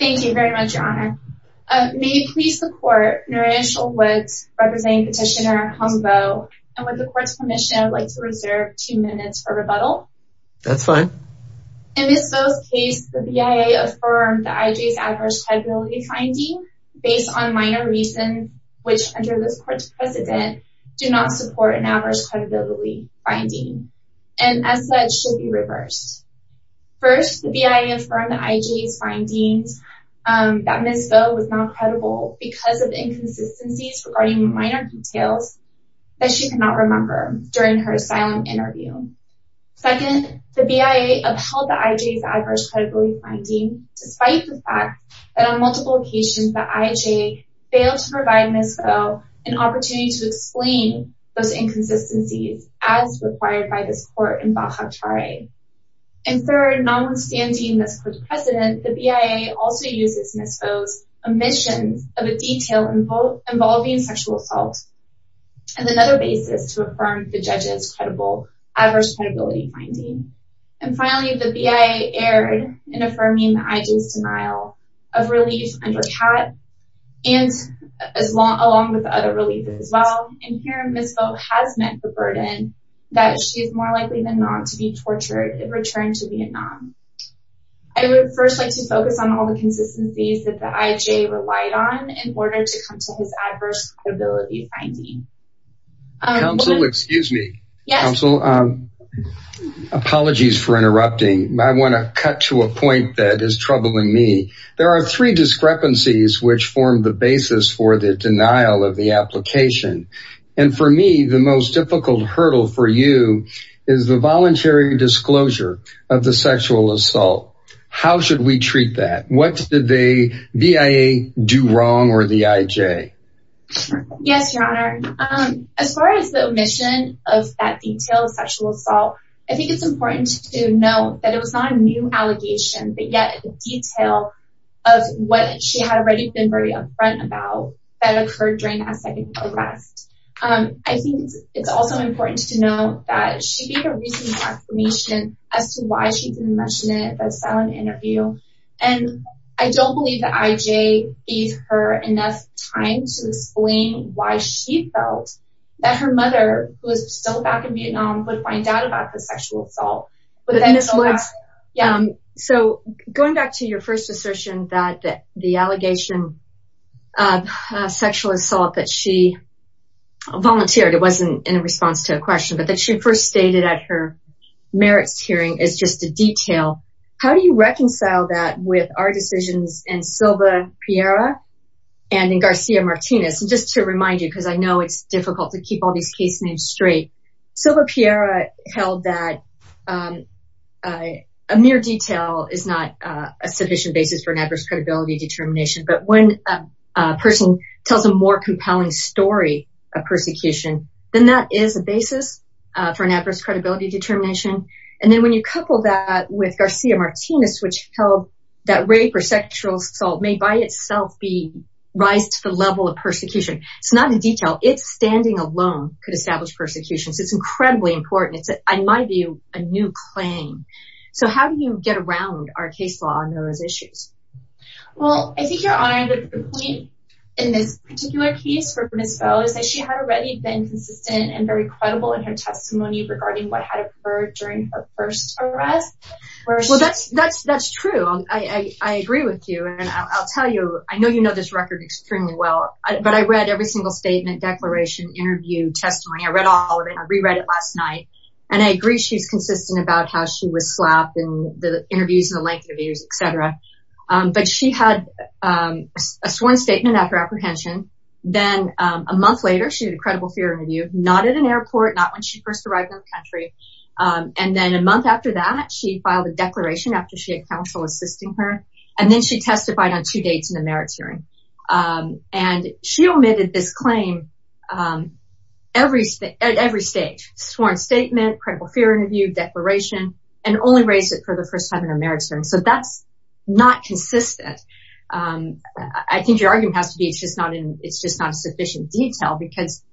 May you please support Noreen Schultz representing Petitioner Humbo and with the Court's permission I would like to reserve two minutes for rebuttal. In Ms. Vo's case, the BIA affirmed the IJ's adverse credibility finding based on minor reasons which, under this Court's precedent, do not support an adverse credibility finding and as such should be reversed. First, the BIA affirmed the IJ's findings that Ms. Vo was not credible because of inconsistencies regarding minor details that she could not remember during her asylum interview. Second, the BIA upheld the IJ's adverse credibility finding despite the fact that on multiple occasions the IJ failed to provide Ms. Vo an opportunity to explain those inconsistencies as required by this Court in Baha'u'l-Tara'i. And third, notwithstanding this Court's precedent, the BIA also uses Ms. Vo's omissions of a detail involving sexual assault as another basis to affirm the judge's adverse credibility finding. And finally, the BIA erred in affirming the IJ's denial of relief under CAT, along with other relief as well, and here Ms. Vo has met the burden that she is more likely than not to be tortured in return to Vietnam. I would first like to focus on all the consistencies that the IJ relied on in order to come to his adverse credibility finding. Counsel, excuse me. Yes. Counsel, apologies for interrupting. I want to cut to a point that is troubling me. There are three discrepancies which form the basis for the denial of the application. And for me, the most difficult hurdle for you is the voluntary disclosure of the sexual assault. How should we treat that? What did the BIA do wrong or the IJ? Yes, Your Honor. As far as the omission of that detail of sexual assault, I think it's important to note that it was not a new allegation, but yet a detail of what she had already been very upfront about that occurred during a second arrest. I think it's also important to note that she gave a reasonable explanation as to why she didn't mention it at the silent interview. And I don't believe the IJ gave her enough time to explain why she felt that her mother, who is still back in Vietnam, would find out about the sexual assault. So going back to your first assertion that the allegation of sexual assault that she volunteered, it wasn't in response to a question, but that she first stated at her merits hearing is just a detail. How do you reconcile that with our decisions in Silva-Pierra and in Garcia-Martinez? And just to remind you, because I know it's difficult to keep all these case names straight, Silva-Pierra held that a mere detail is not a sufficient basis for an adverse credibility determination. But when a person tells a more compelling story of persecution, then that is a basis for an adverse credibility determination. And then when you couple that with Garcia-Martinez, which held that rape or sexual assault may by itself rise to the level of persecution. It's not a detail. Its standing alone could establish persecution. So it's incredibly important. It's, in my view, a new claim. So how do you get around our case law on those issues? Well, I think Your Honor, the point in this particular case for Ms. Bowe is that she had already been consistent and very credible in her testimony regarding what had occurred during her first arrest. Well, that's true. I agree with you. And I'll tell you, I know you know this record extremely well, but I read every single statement, declaration, interview, testimony. I read all of it. I reread it last night. And I agree she's consistent about how she was slapped in the interviews and the length of interviews, etc. But she had a sworn statement after apprehension. Then a month later, she had a credible fear interview, not at an airport, not when she first arrived in the country. And then a month after that, she filed a declaration after she had counsel assisting her. And then she testified on two dates in the merits hearing. And she omitted this claim at every stage, sworn statement, credible fear interview, declaration, and only raised it for the first time in her merits hearing. So that's not consistent. I think your argument has to be it's just not in sufficient detail because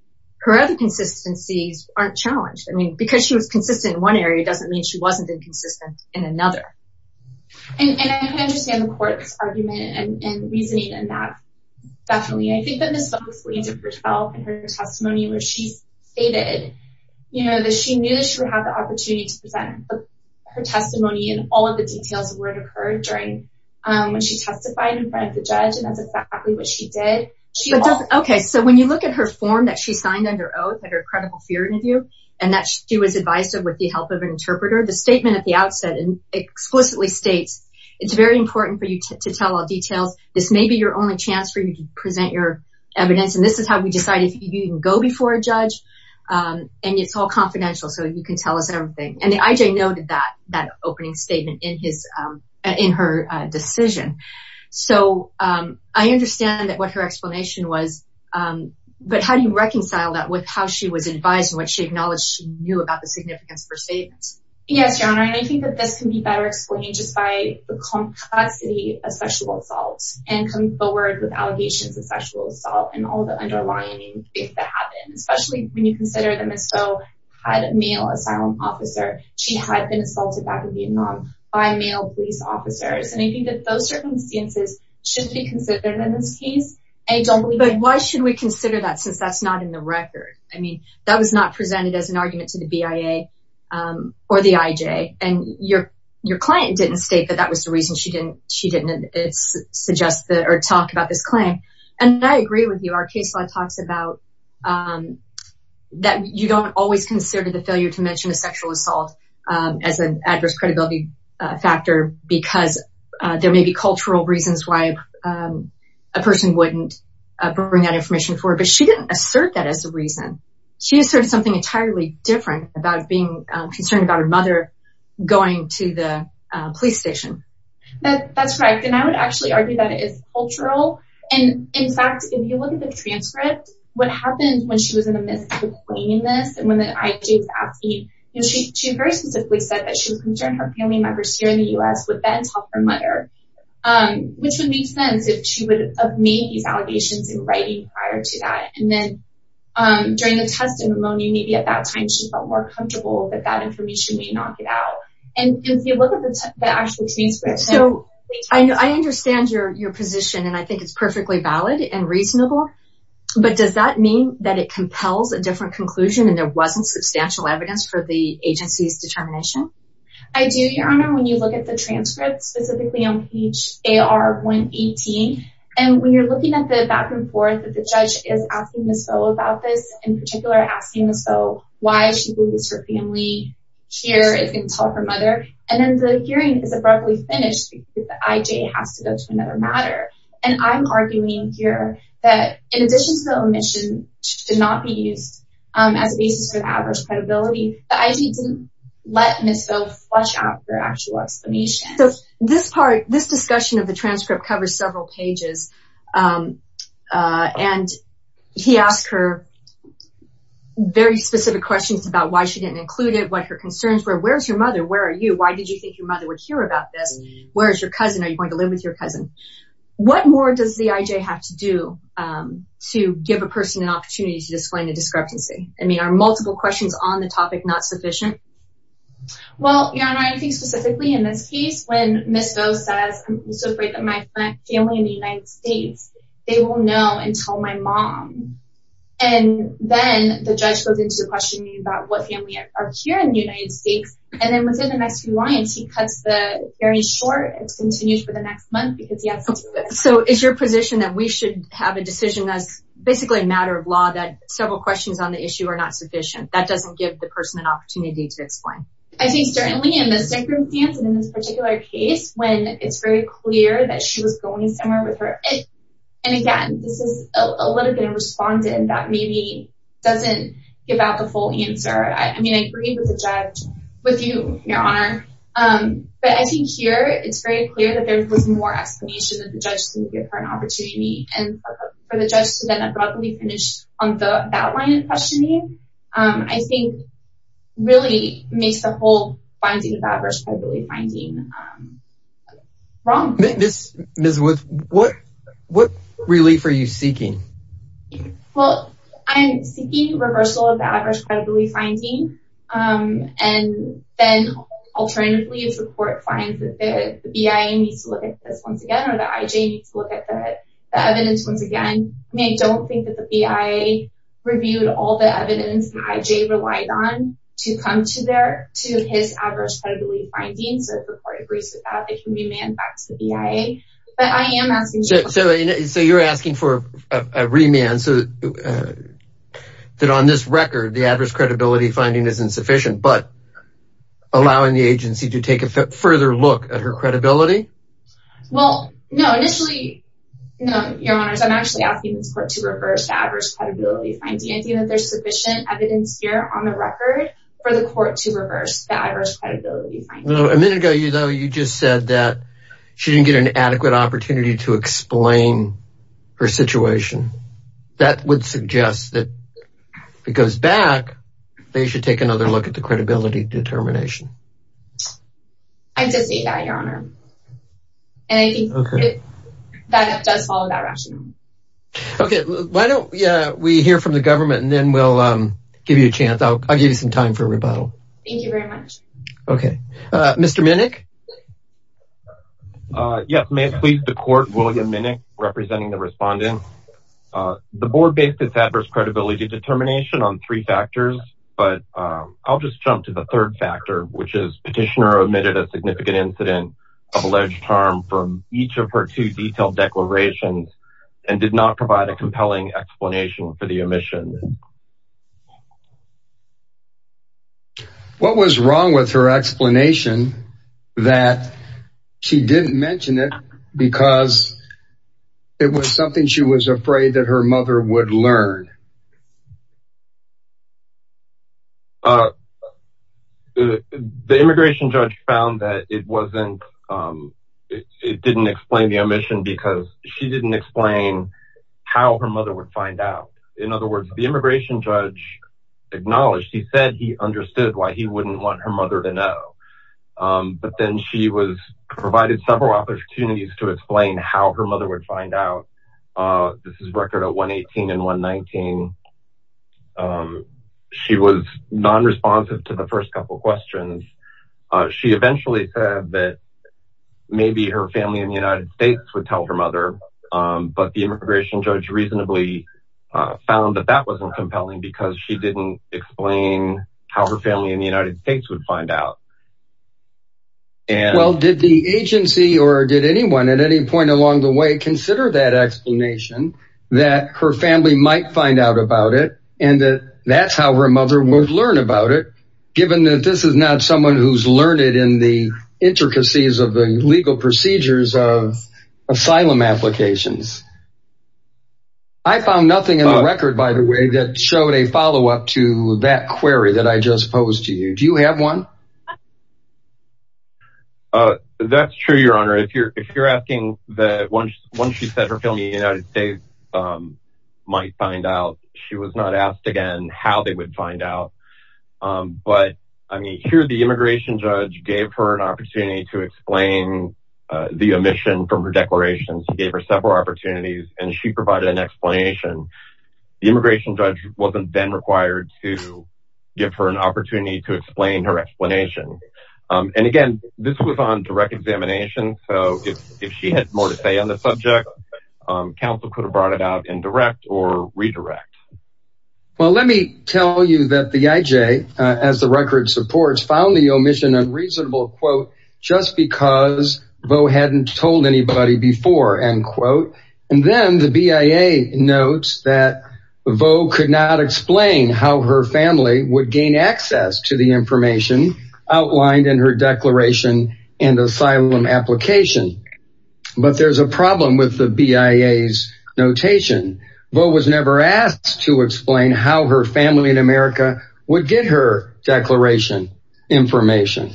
her other consistencies aren't challenged. I mean, because she was consistent in one area doesn't mean she wasn't inconsistent in another. And I can understand the court's argument and reasoning in that. Definitely. I think that Ms. Bunkley did herself in her testimony where she stated, you know, that she knew she would have the opportunity to present her testimony and all of the details of where it occurred during when she testified in front of the judge. And that's exactly what she did. Okay. So when you look at her form that she signed under oath at her credible fear interview, and that she was advised of with the help of an interpreter, the statement at the outset explicitly states, it's very important for you to tell all details. This may be your only chance for you to present your evidence. And this is how we decided you can go before a judge. And it's all confidential so you can tell us everything. And the IJ noted that opening statement in her decision. So I understand what her explanation was. But how do you reconcile that with how she was advised and what she acknowledged she knew about the significance of her statements? Yes, Your Honor. And I think that this can be better explained just by the complexity of sexual assaults and coming forward with allegations of sexual assault and all the underlying things that happen, especially when you consider that Ms. Bunkley had a male asylum officer. She had been assaulted back in Vietnam by male police officers. And I think that those circumstances should be considered in this case. But why should we consider that since that's not in the record? I mean, that was not presented as an argument to the BIA or the IJ. And your client didn't state that that was the reason she didn't talk about this claim. And I agree with you. Our case law talks about that you don't always consider the failure to mention a sexual assault as an adverse credibility factor because there may be cultural reasons why a person wouldn't bring that information forward. But she didn't assert that as a reason. She asserted something entirely different about being concerned about her mother going to the police station. That's correct. And I would actually argue that it is cultural. And in fact, if you look at the transcript, what happened when she was in the midst of explaining this and when the IJ was asking, she very specifically said that she was concerned her family members here in the U.S. would then talk to her mother, which would make sense if she would have made these allegations in writing prior to that. And then during the testimony, maybe at that time she felt more comfortable that that information may not get out. And if you look at the actual transcript. So, I understand your position and I think it's perfectly valid and reasonable. But does that mean that it compels a different conclusion and there wasn't substantial evidence for the agency's determination? I do, Your Honor. When you look at the transcript, specifically on page AR-118, and when you're looking at the back and forth that the judge is asking Ms. Foe about this, in particular asking Ms. Foe why she believes her family here can talk to her mother, and then the hearing is abruptly finished because the IJ has to go to another matter. And I'm arguing here that in addition to the omission, which did not be used as a basis for adverse credibility, the IJ didn't let Ms. Foe flush out her actual explanation. So, this part, this discussion of the transcript covers several pages. And he asked her very specific questions about why she didn't include it, what her concerns were, where's your mother, where are you, why did you think your mother would hear about this, where's your cousin, are you going to live with your cousin? What more does the IJ have to do to give a person an opportunity to explain the discrepancy? I mean, are multiple questions on the topic not sufficient? Well, Your Honor, I think specifically in this case, when Ms. Foe says, I'm so afraid that my family in the United States, they won't know until my mom, and then the judge goes into questioning about what family are here in the United States, and then within the next few lines, he cuts the hearing short and continues for the next month because he has to do this. So, is your position that we should have a decision as basically a matter of law that several questions on the issue are not sufficient? That doesn't give the person an opportunity to explain? I think certainly in this circumstance, and in this particular case, when it's very clear that she was going somewhere with her, and again, this is a little bit of respondent that maybe doesn't give out the full answer. I mean, I agree with the judge, with you, Your Honor. But I think here, it's very clear that there was more explanation that the judge didn't give her an opportunity, and for the judge to then abruptly finish on that line of questioning, I think really makes the whole finding of adverse credibility finding wrong. Ms. Woods, what relief are you seeking? Well, I'm seeking reversal of the adverse credibility finding, and then alternatively, if the court finds that the BIA needs to look at this once again, or the IJ needs to look at the evidence once again, I mean, I don't think that the BIA reviewed all the evidence the IJ relied on to come to his adverse credibility finding, so if the court agrees with that, it can be manned back to the BIA. So you're asking for a remand, so that on this record, the adverse credibility finding isn't sufficient, but allowing the agency to take a further look at her credibility? Well, no, initially, Your Honor, I'm actually asking this court to reverse the adverse credibility finding. I think that there's sufficient evidence here on the record for the court to reverse the adverse credibility finding. A minute ago, though, you just said that she didn't get an adequate opportunity to explain her situation. That would suggest that if it goes back, they should take another look at the credibility determination. I anticipate that, Your Honor, and I think that does follow that rationale. Okay, why don't we hear from the government, and then we'll give you a chance. I'll give you some time for rebuttal. Thank you very much. Okay, Mr. Minnick? Yes, may it please the court, William Minnick, representing the respondents. The board based its adverse credibility determination on three factors, but I'll just jump to the third factor, which is petitioner omitted a significant incident of alleged harm from each of her two detailed declarations and did not provide a compelling explanation for the omission. What was wrong with her explanation that she didn't mention it because it was something she was afraid that her mother would learn? The immigration judge found that it didn't explain the omission because she didn't explain how her mother would find out. In other words, the immigration judge acknowledged, he said he understood why he wouldn't want her mother to know, but then she was provided several opportunities to explain how her mother would find out. This is a record of 118 and 119. She was non-responsive to the first couple of questions. She eventually said that maybe her family in the United States would tell her mother, but the immigration judge reasonably found that that wasn't compelling because she didn't explain how her family in the United States would find out. Well, did the agency or did anyone at any point along the way consider that explanation that her family might find out about it and that that's how her mother would learn about it, given that this is not someone who's learned it in the intricacies of the legal procedures of asylum applications? I found nothing in the record, by the way, that showed a follow-up to that query that I just posed to you. Do you have one? That's true, Your Honor. If you're asking that once she said her family in the United States might find out, she was not asked again how they would find out. But, I mean, here the immigration judge gave her an opportunity to explain the omission from her declaration. She gave her several opportunities, and she provided an explanation. The immigration judge wasn't then required to give her an opportunity to explain her explanation. And, again, this was on direct examination, so if she had more to say on the subject, counsel could have brought it out in direct or redirect. Well, let me tell you that the IJ, as the record supports, found the omission unreasonable, quote, just because Vo hadn't told anybody before, end quote. And then the BIA notes that Vo could not explain how her family would gain access to the information outlined in her declaration and asylum application. But there's a problem with the BIA's notation. Vo was never asked to explain how her family in America would get her declaration information.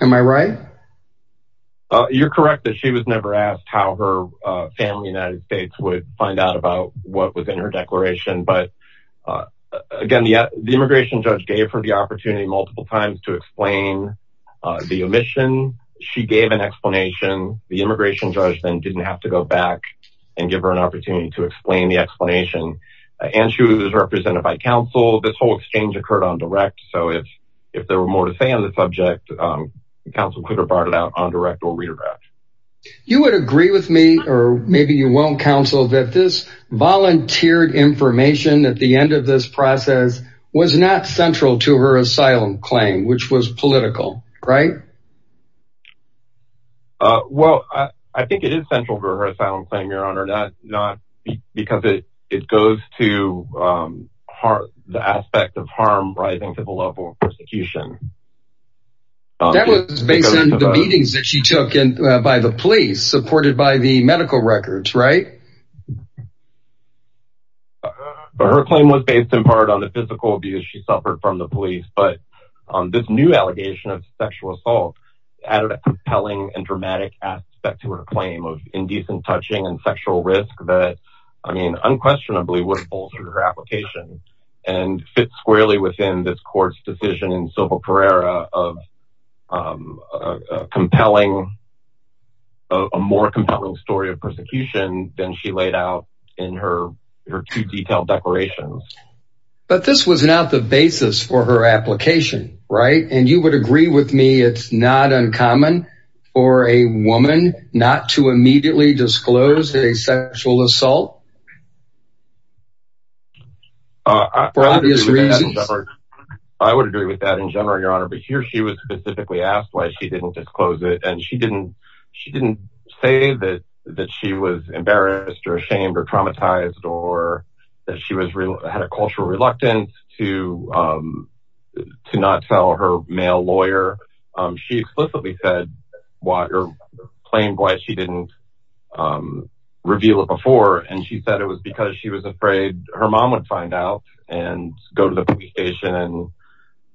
Am I right? You're correct that she was never asked how her family in the United States would find out about what was in her declaration. But, again, the immigration judge gave her the opportunity multiple times to explain the omission. She gave an explanation. The immigration judge then didn't have to go back and give her an opportunity to explain the explanation. And she was represented by counsel. This whole exchange occurred on direct, so if there were more to say on the subject, counsel could have brought it out on direct or redirect. You would agree with me, or maybe you won't, counsel, that this volunteered information at the end of this process was not central to her asylum claim, which was political, right? Well, I think it is central to her asylum claim, Your Honor, because it goes to the aspect of harm rising to the level of persecution. That was based on the meetings that she took by the police, supported by the medical records, right? Her claim was based in part on the physical abuse she suffered from the police, but this new allegation of sexual assault added a compelling and dramatic aspect to her claim of indecent touching and sexual risk that, I mean, unquestionably would have bolstered her application and fit squarely within this court's decision in Sobel Pereira of a compelling, a more compelling story of persecution than she laid out in her two detailed declarations. But this was not the basis for her application, right? And you would agree with me it's not uncommon for a woman not to immediately disclose a sexual assault? For obvious reasons. I would agree with that in general, Your Honor, but here she was specifically asked why she didn't disclose it, and she didn't say that she was embarrassed or ashamed or traumatized or that she had a cultural reluctance to not tell her male lawyer. She explicitly said or claimed why she didn't reveal it before, and she said it was because she was afraid her mom would find out and go to the police station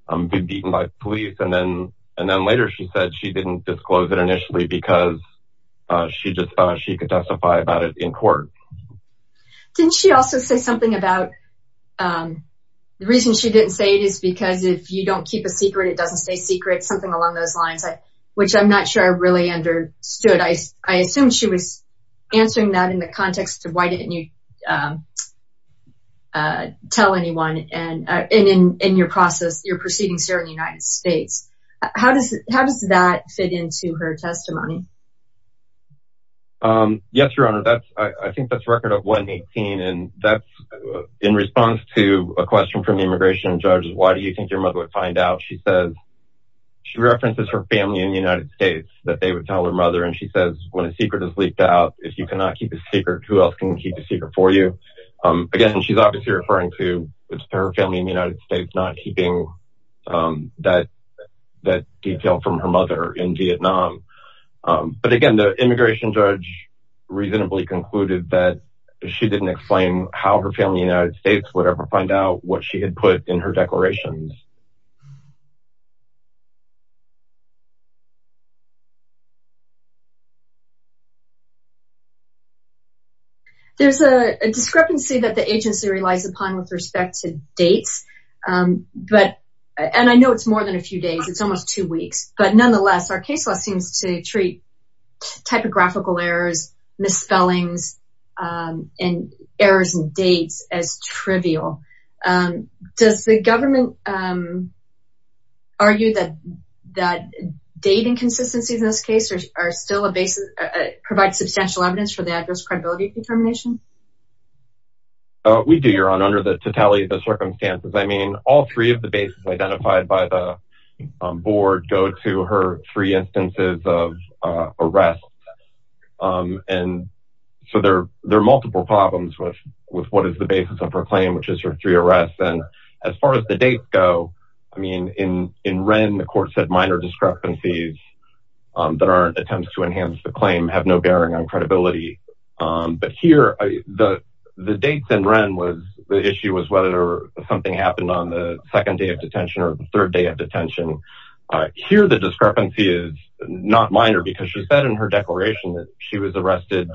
and be beaten by police. And then later she said she didn't disclose it initially because she just thought she could testify about it in court. Didn't she also say something about the reason she didn't say it is because if you don't keep a secret, it doesn't stay secret, something along those lines, which I'm not sure I really understood. I assumed she was answering that in the context of why didn't you tell anyone in your process, your proceedings here in the United States. How does that fit into her testimony? Yes, Your Honor, I think that's record of 118, and that's in response to a question from the immigration judge. Why do you think your mother would find out? She says she references her family in the United States that they would tell her mother, and she says when a secret is leaked out, if you cannot keep a secret, who else can keep a secret for you? Again, she's obviously referring to her family in the United States, not keeping that detail from her mother in Vietnam. But again, the immigration judge reasonably concluded that she didn't explain how her family in the United States would ever find out what she had put in her declarations. There's a discrepancy that the agency relies upon with respect to dates, and I know it's more than a few days. It's almost two weeks, but nonetheless, our case law seems to treat typographical errors, misspellings, and errors in dates as trivial. Does the government argue that date inconsistencies in this case provide substantial evidence for the adverse credibility determination? We do, Your Honor, under the totality of the circumstances. I mean, all three of the bases identified by the board go to her three instances of arrest. And so there are multiple problems with what is the basis of her claim, which is her three arrests. And as far as the dates go, I mean, in Wren, the court said minor discrepancies that are attempts to enhance the claim have no bearing on credibility. But here, the dates in Wren, the issue was whether something happened on the second day of detention or the third day of detention. Here, the discrepancy is not minor because she said in her declaration that she was arrested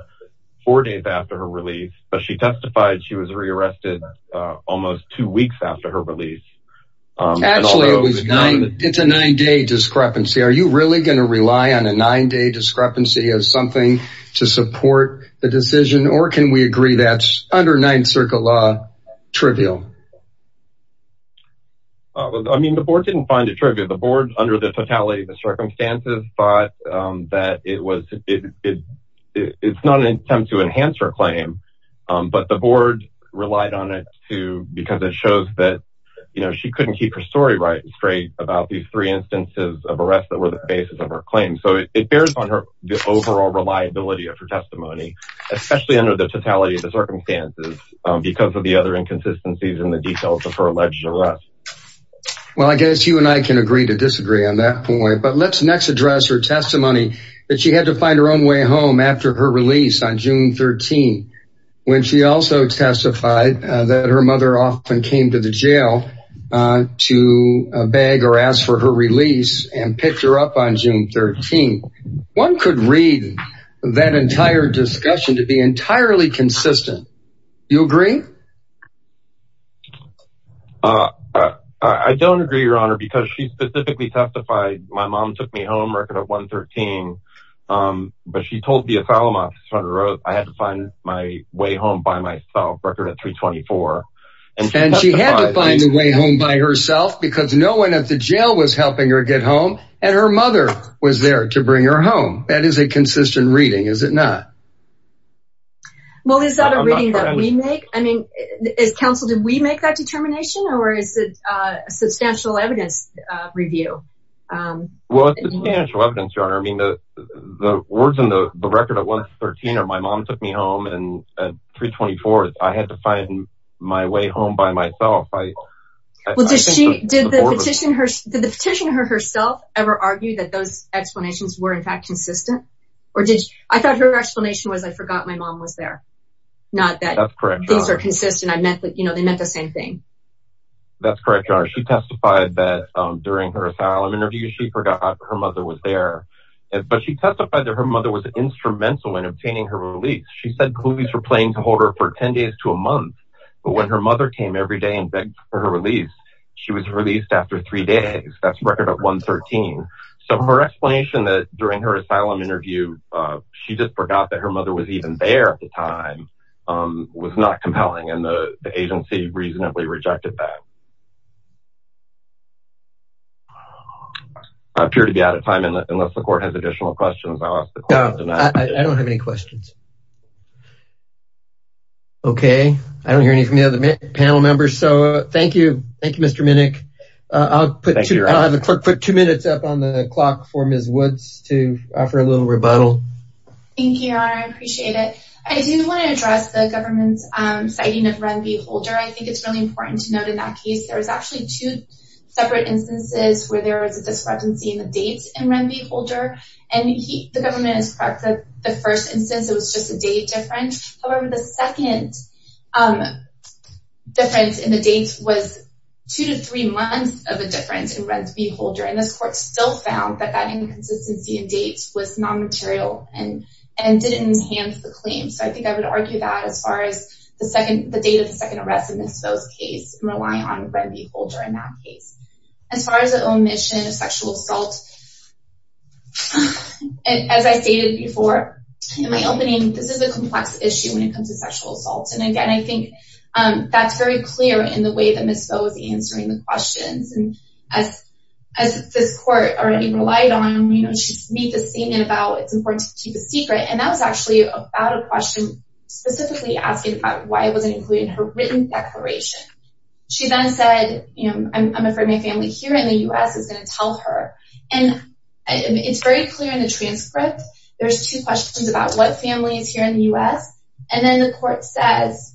four days after her release. But she testified she was re-arrested almost two weeks after her release. Actually, it's a nine-day discrepancy. Are you really going to rely on a nine-day discrepancy as something to support the decision, or can we agree that's, under Ninth Circuit law, trivial? I mean, the board didn't find it trivial. The board, under the totality of the circumstances, thought that it's not an attempt to enhance her claim. But the board relied on it because it shows that she couldn't keep her story right and straight about these three instances of arrest that were the basis of her claim. So it bears on her, the overall reliability of her testimony, especially under the totality of the circumstances, because of the other inconsistencies in the details of her alleged arrest. Well, I guess you and I can agree to disagree on that point. But let's next address her testimony that she had to find her own way home after her release on June 13, when she also testified that her mother often came to the jail to beg or ask for her release and picked her up on June 13. One could read that entire discussion to be entirely consistent. Do you agree? I don't agree, Your Honor, because she specifically testified. My mom took me home, record at 113. But she told the asylum officer on the road, I had to find my way home by myself, record at 324. And she had to find a way home by herself because no one at the jail was helping her get home. And her mother was there to bring her home. That is a consistent reading, is it not? Well, is that a reading that we make? I mean, as counsel, did we make that determination? Or is it a substantial evidence review? Well, it's substantial evidence, Your Honor. I mean, the words in the record at 113 are, my mom took me home, and at 324, I had to find my way home by myself. Did the petitioner herself ever argue that those explanations were, in fact, consistent? I thought her explanation was, I forgot my mom was there. Not that these are consistent. They meant the same thing. That's correct, Your Honor. She testified that during her asylum interview, she forgot her mother was there. But she testified that her mother was instrumental in obtaining her release. She said police were planning to hold her for 10 days to a month. But when her mother came every day and begged for her release, she was released after three days. That's record at 113. So her explanation that during her asylum interview, she just forgot that her mother was even there at the time was not compelling. And the agency reasonably rejected that. I appear to be out of time. Unless the court has additional questions, I'll ask the court to deny it. I don't have any questions. Okay. I don't hear any from the other panel members. So thank you. Thank you, Mr. Minnick. I'll put two minutes up on the clock for Ms. Woods to offer a little rebuttal. Thank you, Your Honor. I appreciate it. I do want to address the government's citing of Renby Holder. I think it's really important to note in that case, there was actually two separate instances where there was a discrepancy in the dates in Renby Holder. And the government is correct that the first instance, it was just a date difference. However, the second difference in the dates was two to three months of a difference in Renby Holder. And this court still found that that inconsistency in dates was nonmaterial and didn't enhance the claim. So I think I would argue that as far as the date of the second arrest in this case and rely on Renby Holder in that case. As far as the omission of sexual assault, as I stated before in my opening, this is a complex issue when it comes to sexual assault. And again, I think that's very clear in the way that Ms. Vo is answering the questions. And as this court already relied on, you know, she's made the statement about it's important to keep a secret. And that was actually about a question specifically asking about why it wasn't included in her written declaration. She then said, you know, I'm afraid my family here in the U.S. is going to tell her. And it's very clear in the transcript. There's two questions about what family is here in the U.S. And then the court says,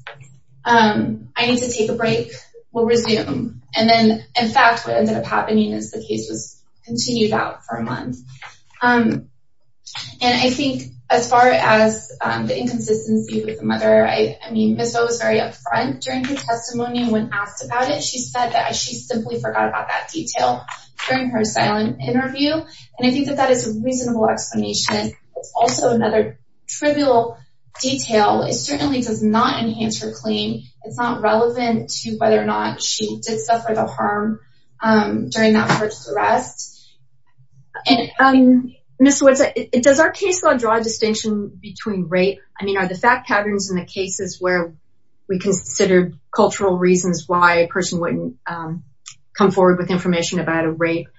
I need to take a break. We'll resume. And then, in fact, what ended up happening is the case was continued out for a month. And I think as far as the inconsistency with the mother, I mean, Ms. Vo was very upfront during her testimony when asked about it. She said that she simply forgot about that detail during her silent interview. And I think that that is a reasonable explanation. It's also another trivial detail. It certainly does not enhance her claim. It's not relevant to whether or not she did suffer the harm during that first arrest. Ms. Woods, does our case law draw a distinction between rape? I mean, are the fact patterns in the cases where we considered cultural reasons why a person wouldn't come forward with information about a rape,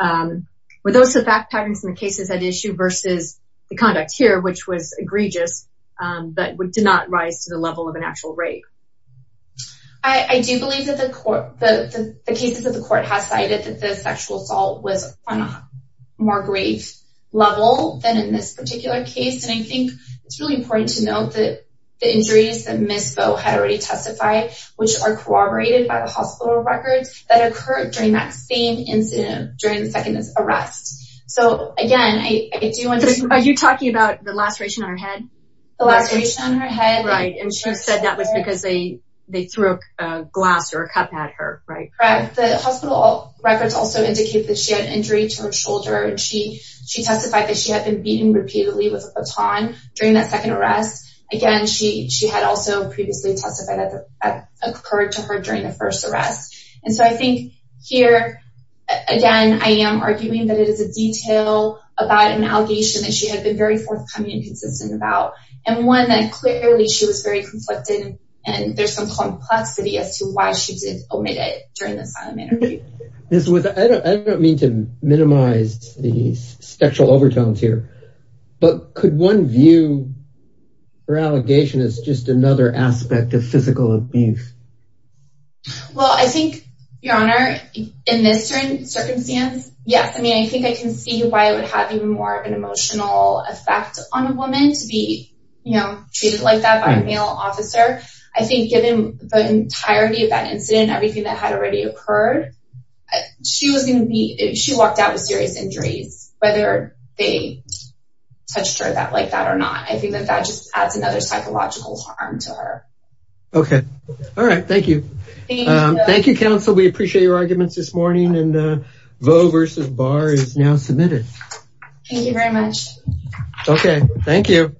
were those the fact patterns in the cases at issue versus the conduct here, which was egregious but did not rise to the level of an actual rape? I do believe that the cases that the court has cited that the sexual assault was on a more grave level than in this particular case. And I think it's really important to note that the injuries that Ms. Vo had already testified, which are corroborated by the hospital records that occurred during that same incident during the second arrest. So, again, I do want to— Are you talking about the laceration on her head? The laceration on her head. Right. And she said that was because they threw a glass or a cup at her, right? Correct. The hospital records also indicate that she had an injury to her shoulder, and she testified that she had been beaten repeatedly with a baton during that second arrest. Again, she had also previously testified that that occurred to her during the first arrest. And so I think here, again, I am arguing that it is a detail about an allegation that she had been very forthcoming and consistent about, and one that clearly she was very conflicted, and there's some complexity as to why she did omit it during the silent interview. I don't mean to minimize the sexual overtones here, but could one view her allegation as just another aspect of physical abuse? Well, I think, Your Honor, in this circumstance, yes. I mean, I think I can see why it would have even more of an emotional effect on a woman to be treated like that by a male officer. I think given the entirety of that incident, everything that had already occurred, she was going to be—she walked out with serious injuries, whether they touched her like that or not. I think that that just adds another psychological harm to her. Okay. All right. Thank you. Thank you, counsel. We appreciate your arguments this morning, and the vote versus bar is now submitted. Thank you very much. Okay. Thank you.